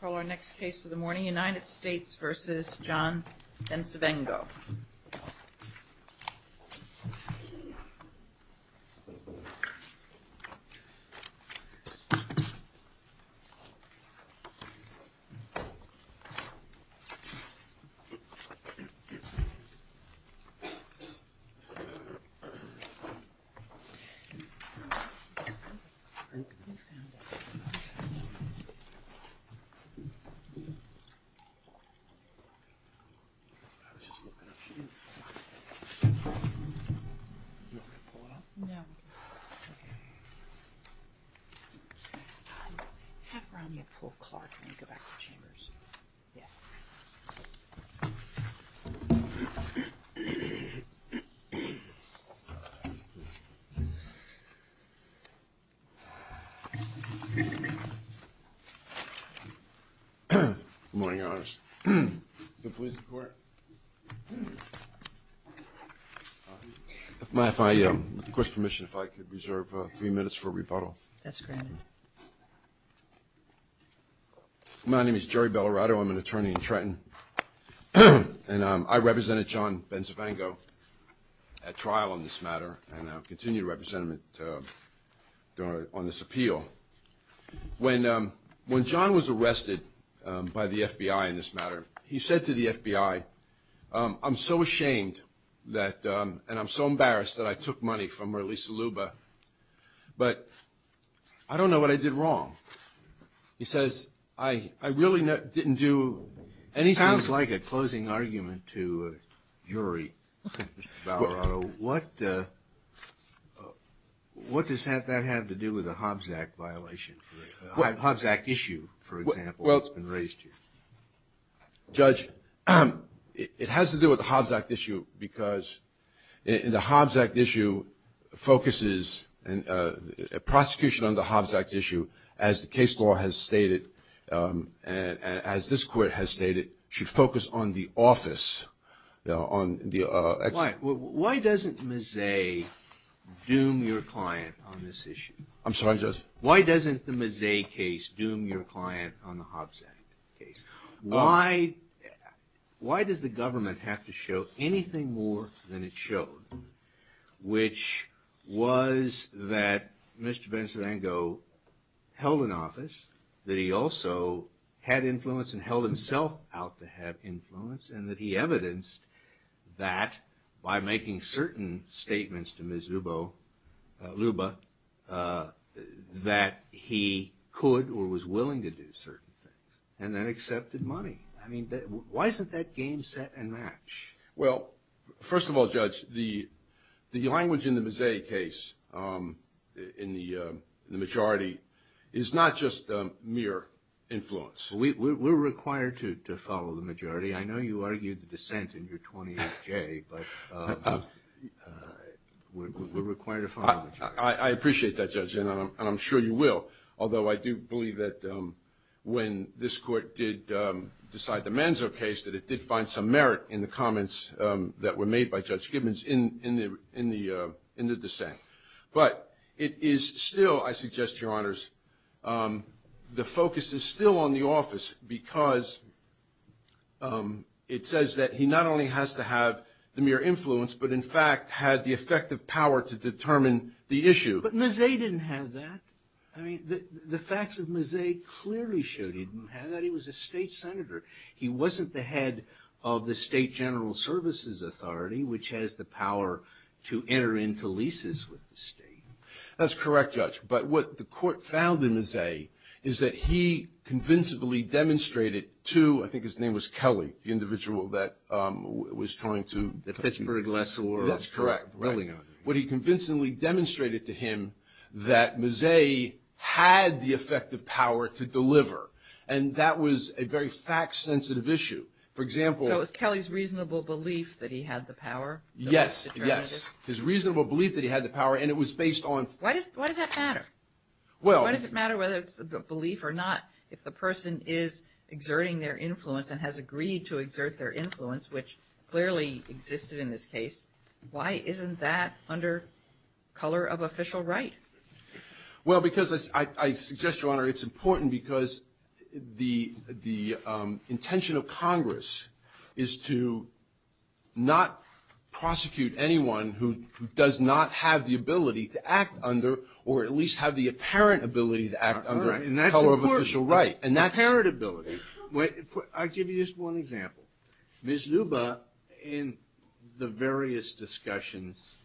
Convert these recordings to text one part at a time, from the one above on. Call our next case of the morning, United States v. John Bencivengo. I was just looking up, she didn't say anything. You want me to pull it up? No. Okay. Half round you pull Clark and then you go back to Chambers. Yeah. Good morning, Your Honors. Good morning, Your Honors. May I, with the Court's permission, if I could reserve three minutes for rebuttal? That's granted. My name is Jerry Bellarado. I'm an attorney in Trenton, and I represented John Bencivengo at trial on this matter and I'll continue to represent him on this appeal. When John was arrested by the FBI in this matter, he said to the FBI, I'm so ashamed and I'm so embarrassed that I took money from Marlisa Luba, but I don't know what I did wrong. He says, I really didn't do anything. It sounds like a closing argument to a jury, Mr. Bellarado. What does that have to do with the Hobbs Act violation, the Hobbs Act issue, for example, that's been raised here? Judge, it has to do with the Hobbs Act issue because the Hobbs Act issue focuses prosecution on the Hobbs Act issue, as the case law has stated and as this Court has stated, should focus on the office. Why doesn't Mazzei doom your client on this issue? I'm sorry, Judge? Why doesn't the Mazzei case doom your client on the Hobbs Act case? Why does the government have to show anything more than it showed, which was that Mr. Bencivengo held an office, that he also had influence and held himself out to have influence, and that he evidenced that by making certain statements to Ms. Luba that he could or was willing to do certain things and then accepted money. I mean, why isn't that game set and match? Well, first of all, Judge, the language in the Mazzei case, in the majority, is not just mere influence. We're required to follow the majority. I know you argued the dissent in your 28J, but we're required to follow the majority. I appreciate that, Judge, and I'm sure you will, although I do believe that when this Court did decide the Manzo case, that it did find some merit in the comments that were made by Judge Gibbons in the dissent. But it is still, I suggest, Your Honors, the focus is still on the office because it says that he not only has to have the mere influence, but in fact had the effective power to determine the issue. But Mazzei didn't have that. I mean, the facts of Mazzei clearly show he didn't have that. He was a state senator. He wasn't the head of the State General Services Authority, which has the power to enter into leases with the state. That's correct, Judge. But what the Court found in Mazzei is that he convincingly demonstrated to, I think his name was Kelly, the individual that was trying to put the Pittsburgh lessor. That's correct. What he convincingly demonstrated to him that Mazzei had the effective power to deliver, and that was a very fact-sensitive issue. So it was Kelly's reasonable belief that he had the power? Yes, yes. His reasonable belief that he had the power, and it was based on. Why does that matter? Why does it matter whether it's a belief or not if the person is exerting their influence and has agreed to exert their influence, which clearly existed in this case? Why isn't that under color of official right? Well, because I suggest, Your Honor, it's important because the intention of Congress is to not prosecute anyone who does not have the ability to act under or at least have the apparent ability to act under color of official right. And that's important, the apparent ability. I'll give you just one example. Ms. Luba, in the various discussions,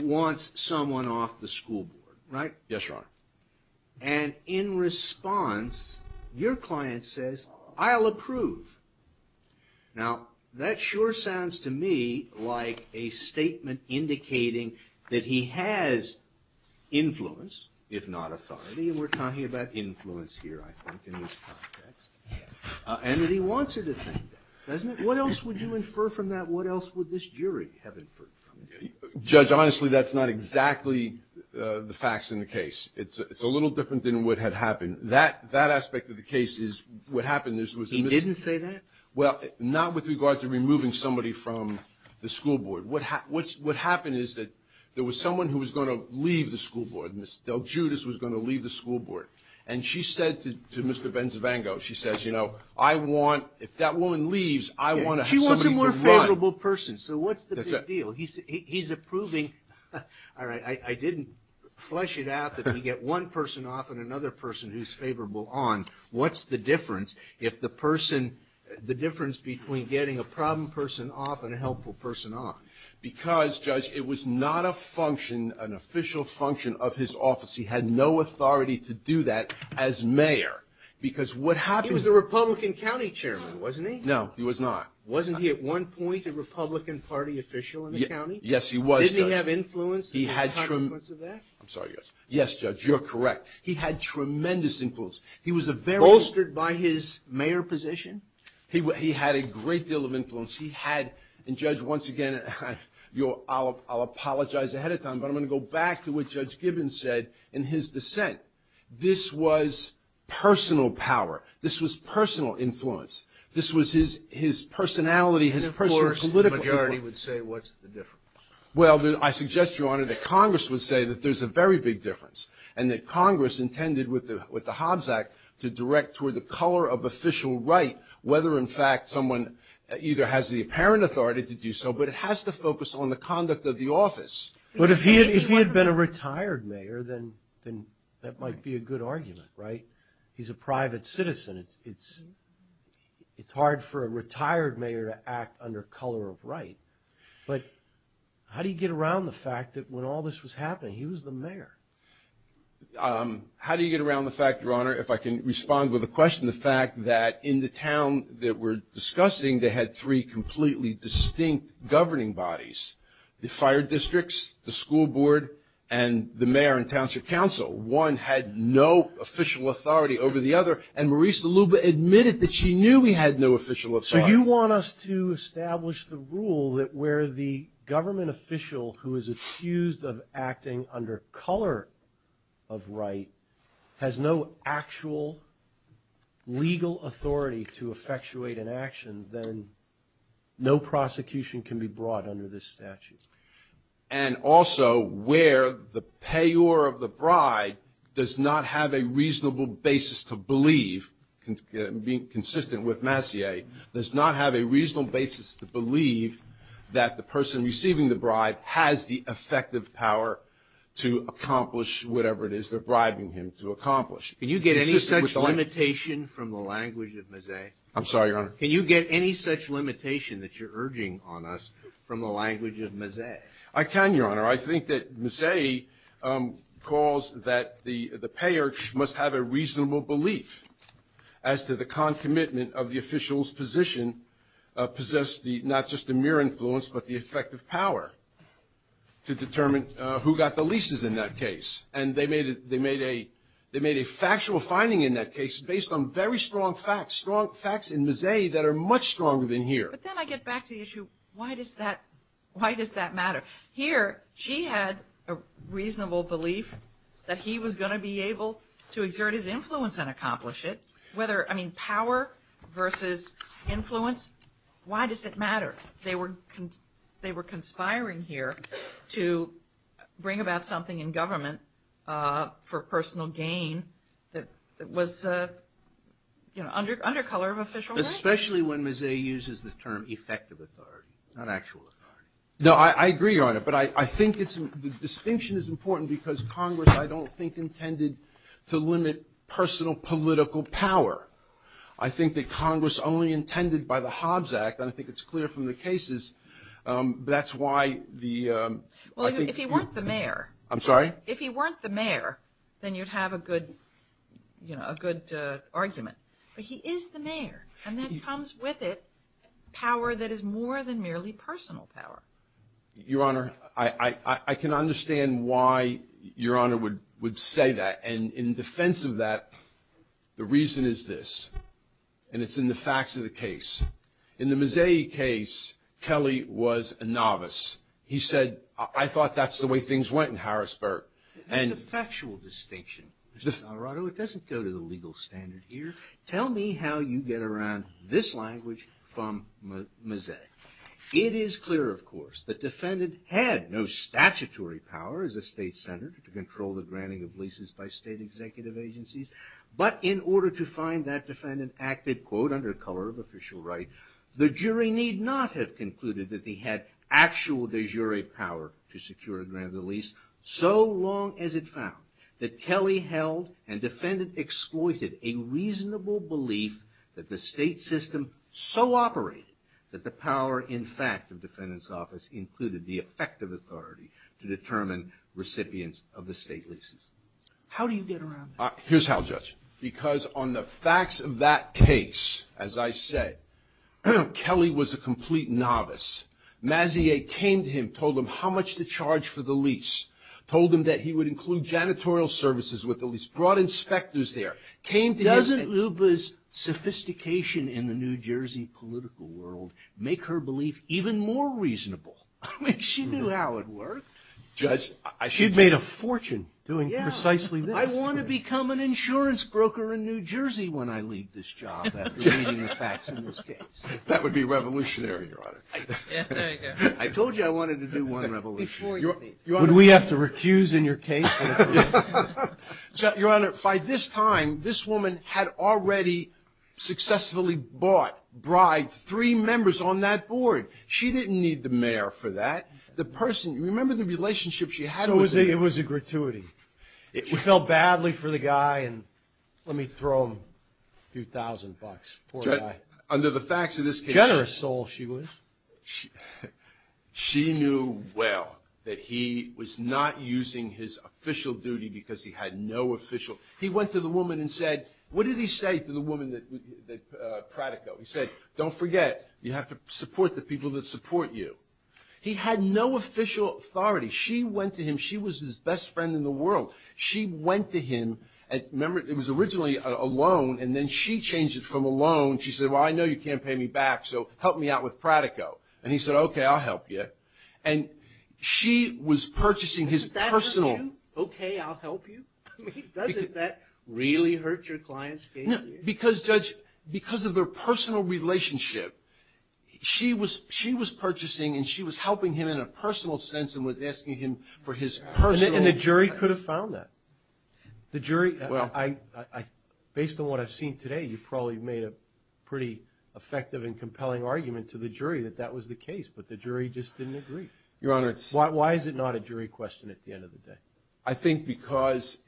wants someone off the school board, right? Yes, Your Honor. And in response, your client says, I'll approve. Now, that sure sounds to me like a statement indicating that he has influence, if not authority, and we're talking about influence here, I think, in this context, and that he wants her to think that, doesn't he? What else would you infer from that? What else would this jury have inferred from it? Judge, honestly, that's not exactly the facts in the case. It's a little different than what had happened. That aspect of the case is what happened. He didn't say that? Well, not with regard to removing somebody from the school board. What happened is that there was someone who was going to leave the school board. Ms. DelGiudice was going to leave the school board, and she said to Mr. Benzevango, she says, you know, I want, if that woman leaves, I want to have somebody to run. She wants a more favorable person. So what's the big deal? He's approving. All right, I didn't flesh it out that we get one person off and another person who's favorable on. What's the difference if the person, the difference between getting a problem person off and a helpful person on? Because, Judge, it was not a function, an official function of his office. He had no authority to do that as mayor, because what happened was... He was a Republican county chairman, wasn't he? No, he was not. Wasn't he at one point a Republican Party official in the county? Yes, he was, Judge. Didn't he have influence as a consequence of that? I'm sorry, Judge. Yes, Judge, you're correct. He had tremendous influence. He was a very... Bolstered by his mayor position? He had a great deal of influence. He had... And, Judge, once again, I'll apologize ahead of time, but I'm going to go back to what Judge Gibbons said in his dissent. This was personal power. This was personal influence. This was his personality, his personal political influence. And, of course, the majority would say, what's the difference? Well, I suggest, Your Honor, that Congress would say that there's a very big difference, and that Congress intended with the Hobbs Act to direct toward the color of official right, whether, in fact, someone either has the apparent authority to do so, but it has to focus on the conduct of the office. But if he had been a retired mayor, then that might be a good argument, right? He's a private citizen. It's hard for a retired mayor to act under color of right. But how do you get around the fact that when all this was happening, he was the mayor? How do you get around the fact, Your Honor, if I can respond with a question, the fact that in the town that we're discussing, they had three completely distinct governing bodies, the fire districts, the school board, and the mayor and township council. One had no official authority over the other, and Marisa Luba admitted that she knew we had no official authority. So you want us to establish the rule that where the government official, who is accused of acting under color of right, has no actual legal authority to effectuate an action, then no prosecution can be brought under this statute. And also where the payor of the bride does not have a reasonable basis to believe, being consistent with Massey, does not have a reasonable basis to believe that the person receiving the bride has the effective power to accomplish whatever it is they're bribing him to accomplish. Can you get any such limitation from the language of Massey? I'm sorry, Your Honor. Can you get any such limitation that you're urging on us from the language of Massey? I can, Your Honor. I think that Massey calls that the payor must have a reasonable belief as to the concomitant of the official's position possess not just the mere influence, but the effective power to determine who got the leases in that case. And they made a factual finding in that case based on very strong facts, facts in Massey that are much stronger than here. But then I get back to the issue, why does that matter? Here, she had a reasonable belief that he was going to be able to exert his influence and accomplish it. I mean, power versus influence, why does it matter? They were conspiring here to bring about something in government for personal gain that was under color of official rights. Especially when Massey uses the term effective authority, not actual authority. No, I agree, Your Honor. But I think the distinction is important because Congress, I don't think, intended to limit personal political power. I think that Congress only intended by the Hobbs Act, and I think it's clear from the cases, that's why the ‑‑ Well, if he weren't the mayor. I'm sorry? If he weren't the mayor, then you'd have a good argument. But he is the mayor. And that comes with it, power that is more than merely personal power. Your Honor, I can understand why Your Honor would say that. And in defense of that, the reason is this. And it's in the facts of the case. In the Massey case, Kelly was a novice. He said, I thought that's the way things went in Harrisburg. That's a factual distinction, Mr. Alvarado. It doesn't go to the legal standard here. Tell me how you get around this language from Massey. It is clear, of course, that defendant had no statutory power as a state senator to control the granting of leases by state executive agencies. But in order to find that defendant active, quote, under color of official right, the jury need not have concluded that he had actual de jure power to secure a grant of the lease, so long as it found that Kelly held and defendant exploited a reasonable belief that the state system so operated that the power, in fact, of defendant's office included the effective authority to determine recipients of the state leases. How do you get around that? Here's how, Judge. Because on the facts of that case, as I said, Kelly was a complete novice. Massey came to him, told him how much to charge for the lease, told him that he would include janitorial services with the lease, brought inspectors there, came to him. Doesn't Lupa's sophistication in the New Jersey political world make her belief even more reasonable? I mean, she knew how it worked. She'd made a fortune doing precisely this. I want to become an insurance broker in New Jersey when I leave this job, after reading the facts in this case. That would be revolutionary, Your Honor. I told you I wanted to do one revolution. Would we have to recuse in your case? Your Honor, by this time, this woman had already successfully bought, bribed three members on that board. She didn't need the mayor for that. The person, remember the relationship she had with the mayor? So it was a gratuity. We felt badly for the guy, and let me throw him a few thousand bucks. Poor guy. Under the facts of this case. Generous soul she was. She knew well that he was not using his official duty because he had no official. He went to the woman and said, what did he say to the woman that Pratico? He said, don't forget, you have to support the people that support you. He had no official authority. She went to him. She was his best friend in the world. She went to him, and remember it was originally a loan, and then she changed it from a loan. She said, well, I know you can't pay me back, so help me out with Pratico. And he said, okay, I'll help you. And she was purchasing his personal. Doesn't that hurt you? Okay, I'll help you? I mean, doesn't that really hurt your client's case? No, because, Judge, because of their personal relationship, she was purchasing and she was helping him in a personal sense and was asking him for his personal. And the jury could have found that. The jury, well, based on what I've seen today, you probably made a pretty effective and compelling argument to the jury that that was the case, but the jury just didn't agree. Why is it not a jury question at the end of the day? I think because,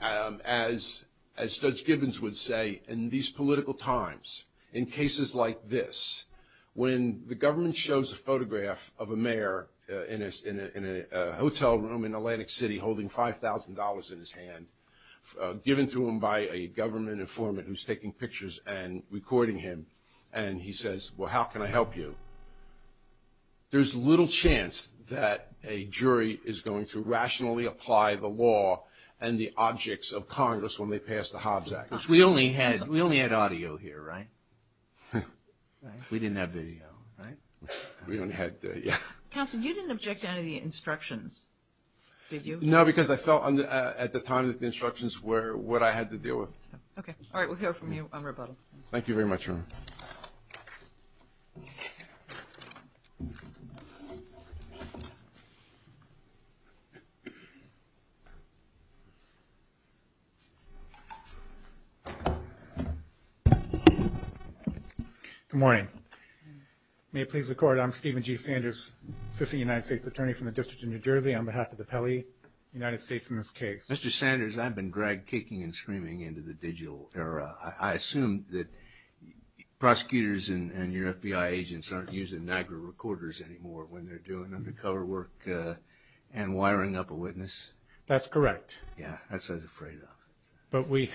as Judge Gibbons would say, in these political times, in cases like this, when the government shows a photograph of a mayor in a hotel room in Atlantic City holding $5,000 in his hand, given to him by a government informant who's taking pictures and recording him, and he says, well, how can I help you? There's little chance that a jury is going to rationally apply the law and the objects of Congress when they pass the Hobbs Act. We only had audio here, right? We didn't have video, right? We only had, yeah. Counsel, you didn't object to any of the instructions, did you? No, because I felt at the time that the instructions were what I had to deal with. Okay. All right, we'll hear from you on rebuttal. Thank you very much. Good morning. May it please the Court, I'm Stephen G. Sanders, Assistant United States Attorney from the District of New Jersey, on behalf of the Pele United States in this case. Mr. Sanders, I've been dragged kicking and screaming into the digital era. I assume that prosecutors and your FBI agents aren't using Niagara recorders anymore when they're doing undercover work and wiring up a witness? That's correct. Yeah, that's what I was afraid of. But we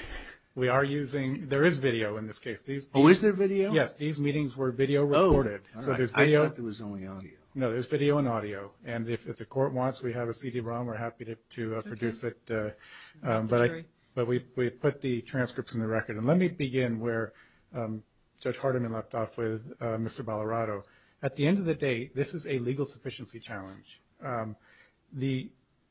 are using – there is video in this case. Oh, is there video? Yes, these meetings were video recorded. I thought there was only audio. No, there's video and audio. And if the Court wants, we have a CD-ROM. We're happy to produce it. But we put the transcripts in the record. And let me begin where Judge Hardiman left off with Mr. Ballarato. At the end of the day, this is a legal sufficiency challenge. The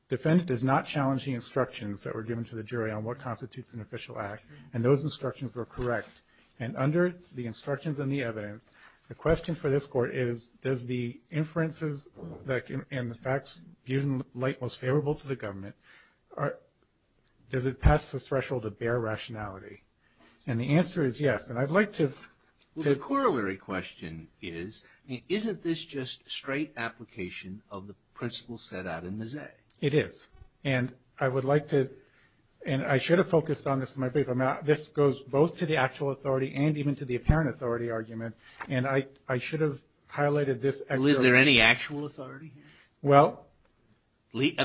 defendant does not challenge the instructions that were given to the jury on what constitutes an official act, and those instructions were correct. And under the instructions and the evidence, the question for this Court is, does the inferences and the facts viewed in light most favorable to the government, does it pass the threshold of bare rationality? And the answer is yes. And I'd like to – Well, the corollary question is, isn't this just straight application of the principles set out in the Zay? It is. And I would like to – and I should have focused on this in my brief. This goes both to the actual authority and even to the apparent authority argument. And I should have highlighted this actually. Well, is there any actual authority here? Well –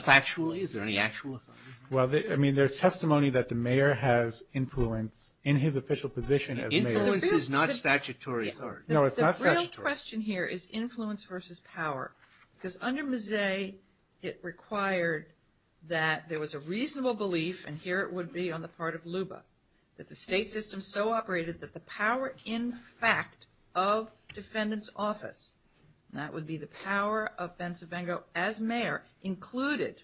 Actually, is there any actual authority? Well, I mean, there's testimony that the mayor has influence in his official position as mayor. Influence is not statutory authority. No, it's not statutory. The real question here is influence versus power. Because under Mzee, it required that there was a reasonable belief, and here it would be on the part of LUBA, that the state system so operated that the power in fact of defendant's office, and that would be the power of Ben Savango as mayor, included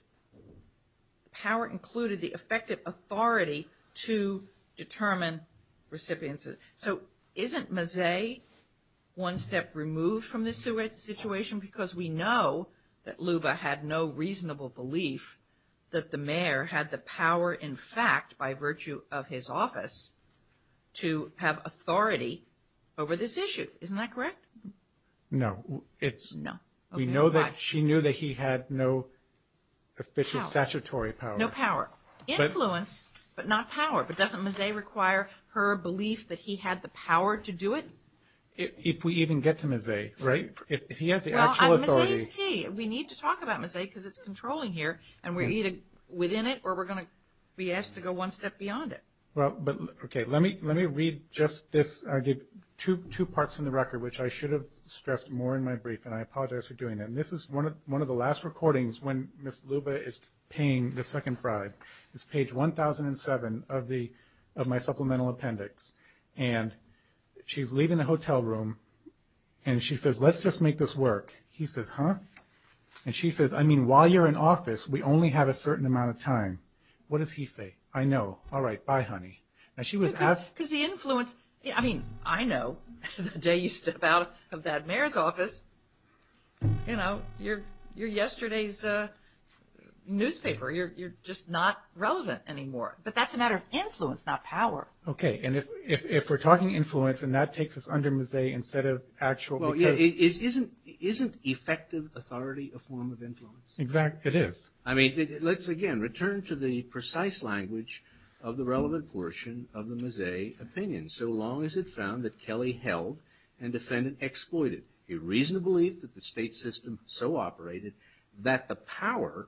the effective authority to determine recipients. So isn't Mzee one step removed from this situation? Because we know that LUBA had no reasonable belief that the mayor had the power in fact, by virtue of his office, to have authority over this issue. Isn't that correct? No. No. We know that she knew that he had no official statutory power. No power. Influence, but not power. But doesn't Mzee require her belief that he had the power to do it? If we even get to Mzee, right? If he has the actual authority – Well, Mzee is key. We need to talk about Mzee because it's controlling here, and we're either within it or we're going to be asked to go one step beyond it. Okay. Let me read just this. I did two parts in the record, which I should have stressed more in my brief, and I apologize for doing that. And this is one of the last recordings when Ms. LUBA is paying the second pride. It's page 1007 of my supplemental appendix. And she's leaving the hotel room, and she says, let's just make this work. He says, huh? And she says, I mean, while you're in office, we only have a certain amount of time. What does he say? I know. All right. Bye, honey. Because the influence – I mean, I know. The day you step out of that mayor's office, you know, you're yesterday's newspaper. You're just not relevant anymore. But that's a matter of influence, not power. And if we're talking influence, and that takes us under Mzee instead of actual – Well, yeah, isn't effective authority a form of influence? Exactly. It is. I mean, let's, again, return to the precise language of the relevant portion of the Mzee opinion. So long as it found that Kelly held and defendant exploited a reasonable belief that the state system so operated that the power,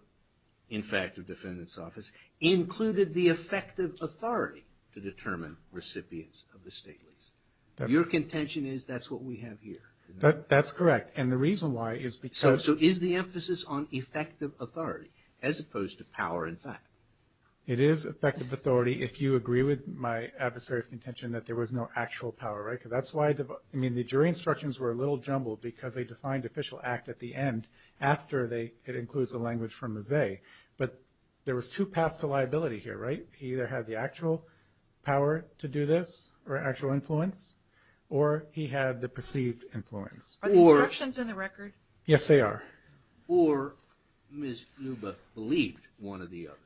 in fact, of defendant's office included the effective authority to determine recipients of the state lease. Your contention is that's what we have here. That's correct. And the reason why is because – So is the emphasis on effective authority as opposed to power, in fact? It is effective authority if you agree with my adversary's contention that there was no actual power, right? Because that's why – I mean, the jury instructions were a little jumbled because they defined official act at the end after it includes the language from Mzee. But there was two paths to liability here, right? He either had the actual power to do this or actual influence, or he had the perceived influence. Are the instructions in the record? Yes, they are. Or Ms. Luba believed one or the other.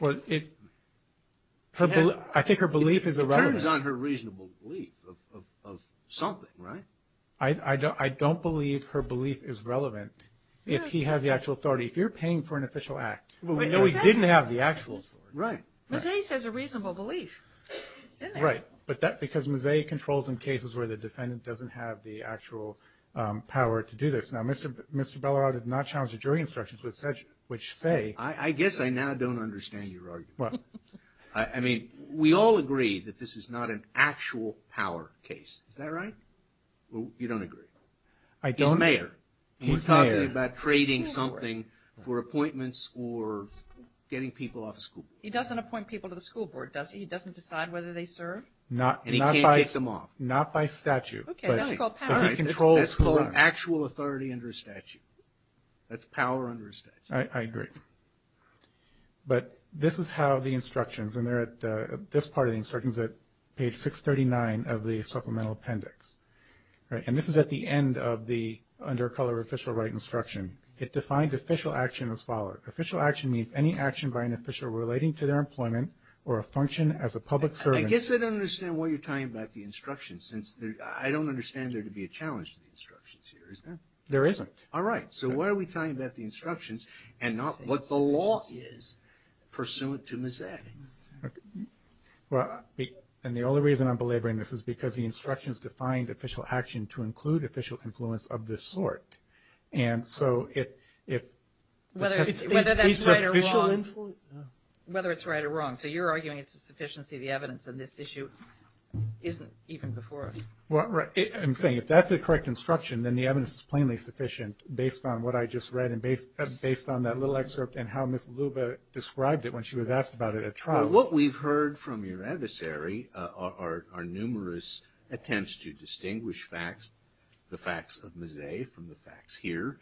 Well, it – I think her belief is irrelevant. It turns on her reasonable belief of something, right? I don't believe her belief is relevant if he has the actual authority. If you're paying for an official act – Mzee says a reasonable belief. It's in there. Right. But that – because Mzee controls in cases where the defendant doesn't have the actual power to do this. Now, Mr. Belarod did not challenge the jury instructions, which say – I guess I now don't understand your argument. What? I mean, we all agree that this is not an actual power case. Is that right? You don't agree? I don't. He's mayor. He's mayor. He's talking about trading something for appointments or getting people off of school. He doesn't appoint people to the school board, does he? He doesn't decide whether they serve? And he can't take them off. Not by statute. Okay. That's called power. That's called actual authority under a statute. That's power under a statute. I agree. But this is how the instructions – and they're at – this part of the instructions is at page 639 of the supplemental appendix. It defined official action as followed. Official action means any action by an official relating to their employment or a function as a public servant – I guess I don't understand what you're talking about the instructions, since there – I don't understand there to be a challenge to the instructions here, is there? There isn't. All right. So what are we talking about the instructions and not what the law is pursuant to Ms. A? Well, and the only reason I'm belaboring this is because the instructions defined official action to include official influence of this sort. And so if – Whether that's right or wrong. It's official influence? Whether it's right or wrong. So you're arguing it's a sufficiency of the evidence, and this issue isn't even before us. Well, I'm saying if that's a correct instruction, then the evidence is plainly sufficient based on what I just read and based on that little excerpt and how Ms. Luba described it when she was asked about it at trial. Well, what we've heard from your adversary are numerous attempts to distinguish facts, the facts of Ms. A from the facts here,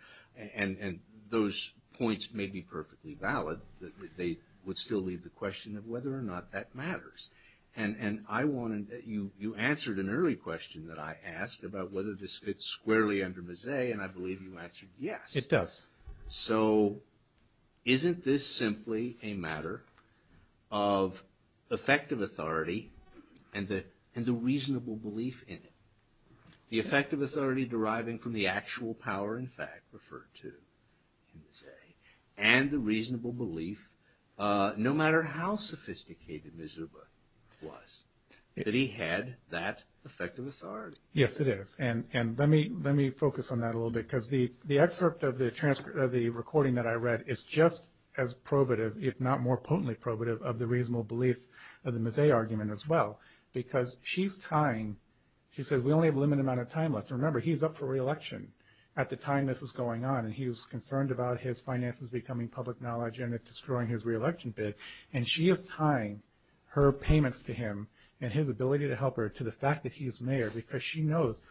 and those points may be perfectly valid. They would still leave the question of whether or not that matters. And I wanted – you answered an early question that I asked about whether this fits squarely under Ms. A, and I believe you answered yes. It does. So isn't this simply a matter of effective authority and the reasonable belief in it? The effective authority deriving from the actual power in fact referred to in Ms. A, and the reasonable belief, no matter how sophisticated Ms. Luba was, that he had that effective authority. Yes, it is. And let me focus on that a little bit because the excerpt of the recording that I read is just as probative, if not more potently probative, of the reasonable belief of the Ms. A argument as well. Because she's tying – she says, we only have a limited amount of time left. Remember, he's up for re-election at the time this is going on, and he's concerned about his finances becoming public knowledge and destroying his re-election bid. And she is tying her payments to him and his ability to help her to the fact that he's mayor because she knows.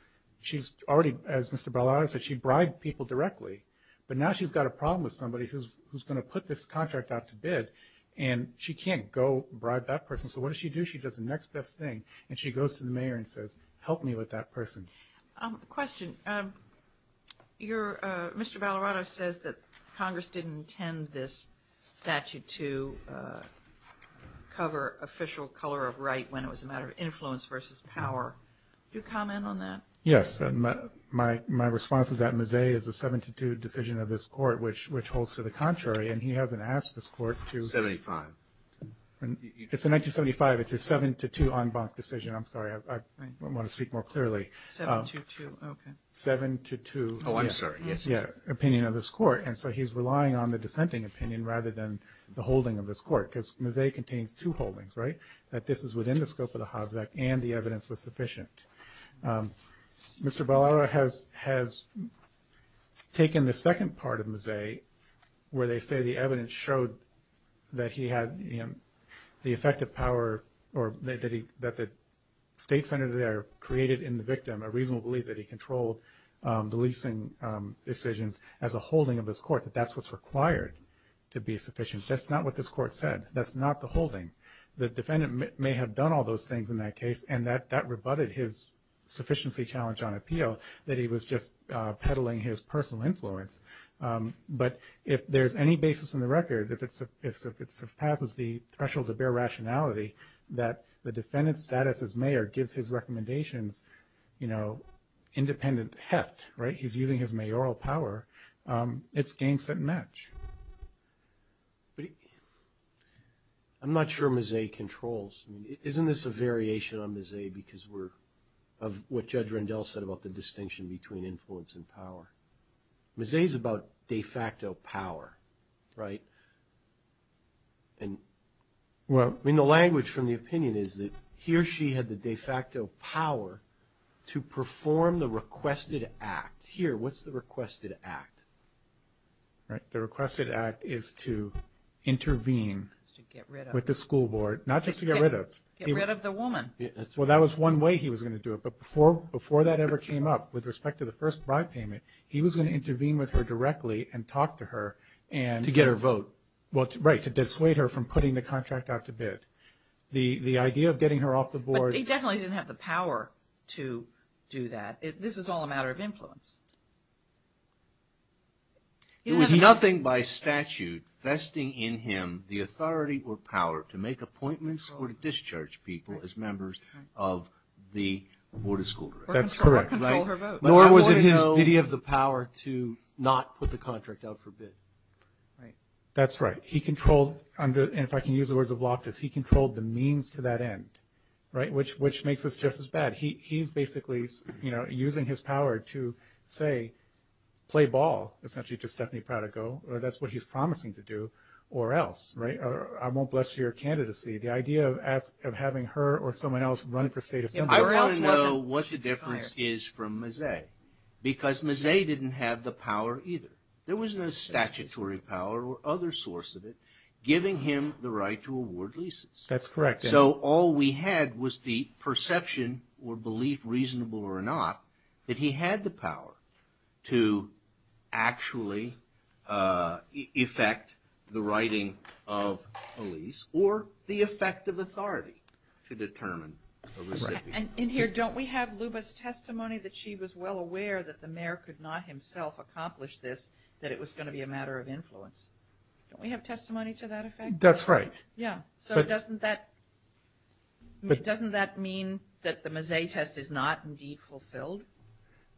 She's already, as Mr. Barlara said, she bribed people directly. But now she's got a problem with somebody who's going to put this contract out to bid, and she can't go bribe that person. So what does she do? She does the next best thing, and she goes to the mayor and says, help me with that person. Question. Your – Mr. Ballarato says that Congress didn't intend this statute to cover official color of right when it was a matter of influence versus power. Do you comment on that? Yes. My response is that Ms. A is a 7-2 decision of this court, which holds to the contrary. And he hasn't asked this court to – 75. It's a 1975. It's a 7-2 en banc decision. I'm sorry. I want to speak more clearly. 7-2-2. Okay. 7-2-2. Oh, I'm sorry. Yes, sir. Yeah, opinion of this court. And so he's relying on the dissenting opinion rather than the holding of this court because Ms. A contains two holdings, right, that this is within the scope of the Hobbs Act and the evidence was sufficient. Mr. Ballarato has taken the second part of Ms. A where they say the evidence showed that he had the effective power or that the state senator there created in the victim a reasonable belief that he controlled the leasing decisions as a holding of this court, that that's what's required to be sufficient. That's not what this court said. That's not the holding. The defendant may have done all those things in that case and that rebutted his sufficiency challenge on appeal, that he was just peddling his personal influence. But if there's any basis in the record, if it surpasses the threshold of bare rationality that the defendant's status as mayor gives his recommendations, you know, independent heft, right, he's using his mayoral power, it's game, set, and match. I'm not sure Ms. A controls. I mean, isn't this a variation on Ms. A because we're of what Judge Rendell said about the distinction between influence and power? Ms. A is about de facto power, right? I mean, the language from the opinion is that he or she had the de facto power to perform the requested act. Here, what's the requested act? The requested act is to intervene with the school board, not just to get rid of. Get rid of the woman. Well, that was one way he was going to do it. But before that ever came up with respect to the first bribe payment, he was going to intervene with her directly and talk to her and to get her vote. Well, right, to dissuade her from putting the contract out to bid. The idea of getting her off the board. But he definitely didn't have the power to do that. This is all a matter of influence. It was nothing by statute vesting in him the authority or power to make appointments or discharge people as members of the board of school directors. That's correct. Nor was it his duty of the power to not put the contract out for bid. That's right. He controlled, and if I can use the words of Loftus, he controlled the means to that end, which makes us just as bad. He's basically using his power to, say, play ball, essentially, to Stephanie Prada Goh, or that's what he's promising to do, or else. I won't bless your candidacy. The idea of having her or someone else run for state assembly. I want to know what the difference is from Mazet, because Mazet didn't have the power either. There was no statutory power or other source of it giving him the right to award leases. That's correct. So all we had was the perception or belief, reasonable or not, that he had the power to actually effect the writing of a lease or the effect of authority to determine a recipient. And in here, don't we have Luba's testimony that she was well aware that the mayor could not himself accomplish this, that it was going to be a matter of influence? Don't we have testimony to that effect? That's right. Yeah. So doesn't that mean that the Mazet test is not, indeed, fulfilled?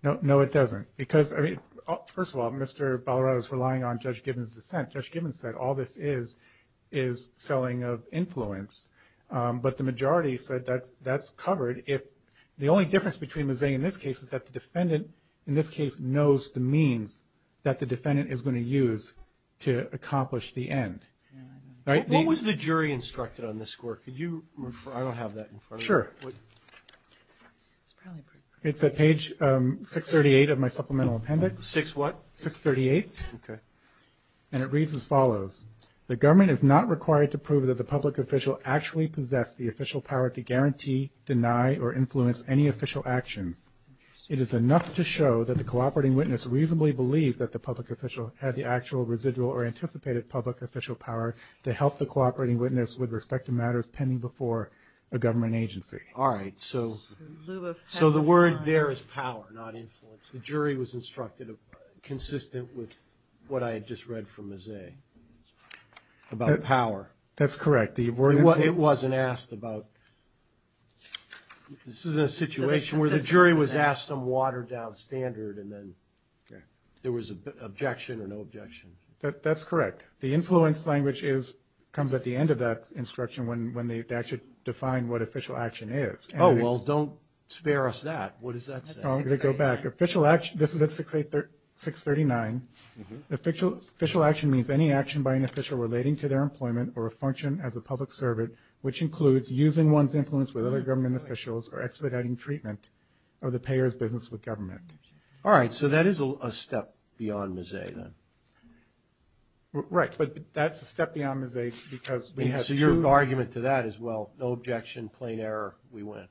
No, it doesn't. First of all, Mr. Ballarat is relying on Judge Gibbons' dissent. Judge Gibbons said all this is is selling of influence. But the majority said that's covered. The only difference between Mazet in this case is that the defendant, in this case, knows the means that the defendant is going to use to accomplish the end. What was the jury instructed on this score? Could you refer? I don't have that in front of me. Sure. It's at page 638 of my supplemental appendix. 6 what? 638. Okay. And it reads as follows. The government is not required to prove that the public official actually possessed the official power to guarantee, deny, or influence any official actions. It is enough to show that the cooperating witness reasonably believed that the public official had the actual, residual, or anticipated public official power to help the cooperating witness with respect to matters pending before a government agency. All right. So the word there is power, not influence. The jury was instructed consistent with what I had just read from Mazet about power. That's correct. It wasn't asked about – this is a situation where the jury was asked on watered-down standard and then there was objection or no objection. That's correct. The influence language comes at the end of that instruction when they actually define what official action is. Oh, well, don't spare us that. What does that say? I'm going to go back. This is at 639. Official action means any action by an official relating to their employment or a function as a public servant, which includes using one's influence with other government officials or expediting treatment of the payer's business with government. All right. So that is a step beyond Mazet, then. Right. But that's a step beyond Mazet because we had two – So your argument to that is, well, no objection, plain error, we win.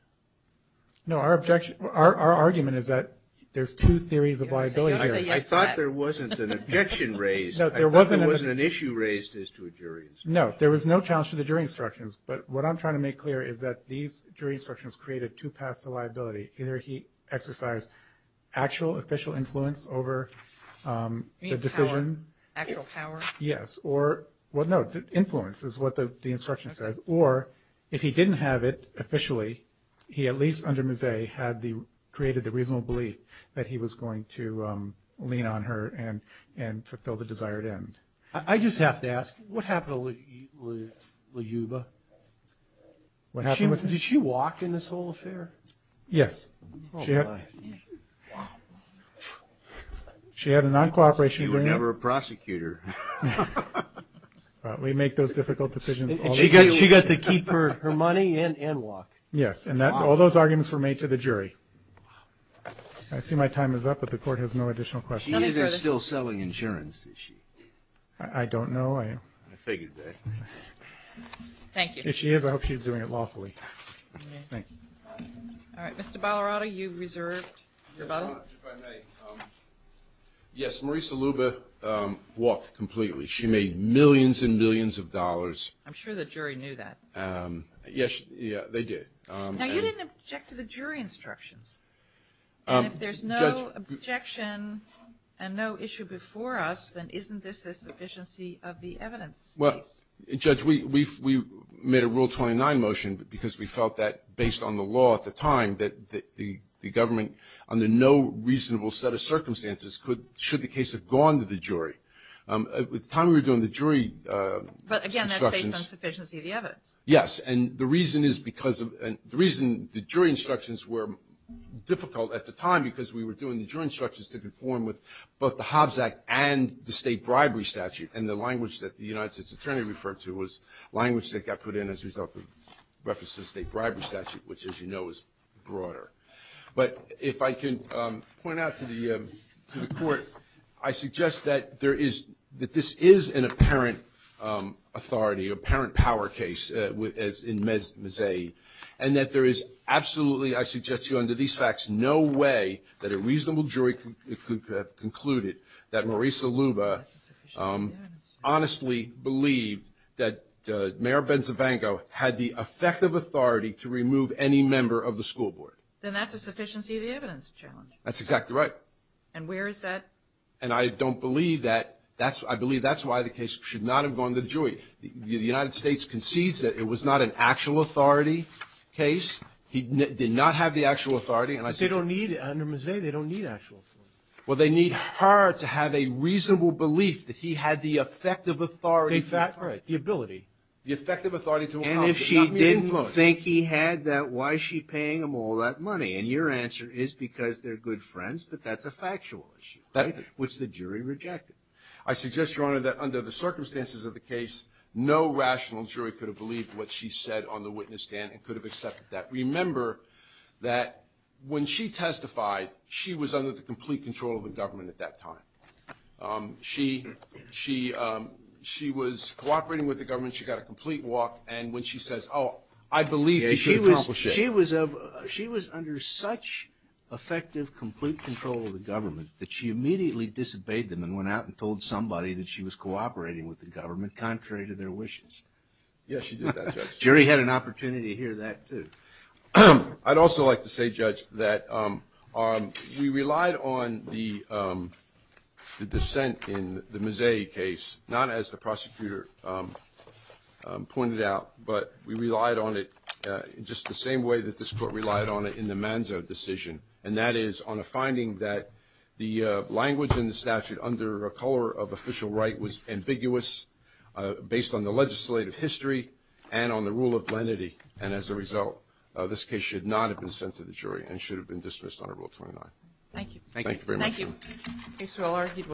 No, our argument is that there's two theories of liability here. Don't say yes to that. I thought there wasn't an objection raised. I thought there wasn't an issue raised as to a jury instruction. No, there was no challenge to the jury instructions. But what I'm trying to make clear is that these jury instructions created two paths to liability. Either he exercised actual official influence over the decision. Actual power? Yes. Or, well, no, influence is what the instruction says. Or if he didn't have it officially, he, at least under Mazet, had created the reasonable belief that he was going to lean on her and fulfill the desired end. I just have to ask, what happened to LaJuba? Did she walk in this whole affair? Yes. Oh, my. She had a non-cooperation agreement. She was never a prosecutor. We make those difficult decisions all the time. She got to keep her money and walk. Yes. And all those arguments were made to the jury. I see my time is up, but the Court has no additional questions. She is still selling insurance, is she? I don't know. I figured that. Thank you. If she is, I hope she's doing it lawfully. Thank you. All right. Mr. Ballarato, you reserved your vote. Yes, Your Honor, if I may. Yes, Marisa Luba walked completely. She made millions and millions of dollars. I'm sure the jury knew that. Yes, they did. Now, you didn't object to the jury instructions. And if there's no objection and no issue before us, then isn't this a sufficiency of the evidence case? Well, Judge, we made a Rule 29 motion because we felt that, based on the law at the time, that the government, under no reasonable set of circumstances, should the case have gone to the jury. At the time we were doing the jury instructions. But, again, that's based on sufficiency of the evidence. Yes. And the reason is because of the jury instructions were difficult at the time because we were doing the jury instructions to conform with both the Hobbs Act and the state bribery statute. And the language that the United States Attorney referred to was language that got put in as a result of reference to the state bribery statute, which, as you know, is broader. But if I can point out to the Court, I suggest that this is an apparent authority, an apparent power case, as in Mazzei, and that there is absolutely, I suggest to you under these facts, no way that a reasonable jury could have concluded that Marisa Luba honestly believed that Mayor Benzevango had the effective authority to remove any member of the school board. Then that's a sufficiency of the evidence challenge. That's exactly right. And where is that? And I don't believe that. I believe that's why the case should not have gone to the jury. The United States concedes that it was not an actual authority case. He did not have the actual authority. And I suggest to you. But they don't need, under Mazzei, they don't need actual authority. Well, they need her to have a reasonable belief that he had the effective authority to do it. The ability. The effective authority to accomplish it. And if she didn't think he had that, why is she paying him all that money? And your answer is because they're good friends, but that's a factual issue, which the jury rejected. I suggest, Your Honor, that under the circumstances of the case, no rational jury could have believed what she said on the witness stand and could have accepted that. Remember that when she testified, she was under the complete control of the government at that time. She was cooperating with the government. She got a complete walk. And when she says, oh, I believe that she accomplished it. She was under such effective, complete control of the government that she immediately disobeyed them and went out and told somebody that she was cooperating with the government contrary to their wishes. Yes, she did that, Judge. The jury had an opportunity to hear that, too. I'd also like to say, Judge, that we relied on the dissent in the Mazzei case, not as the prosecutor pointed out, but we relied on it just the same way that this Court relied on it in the Manzo decision. And that is on a finding that the language in the statute under a color of official right was ambiguous based on the legislative history and on the rule of lenity. And as a result, this case should not have been sent to the jury and should have been dismissed under Rule 29. Thank you very much, Your Honor. Thank you.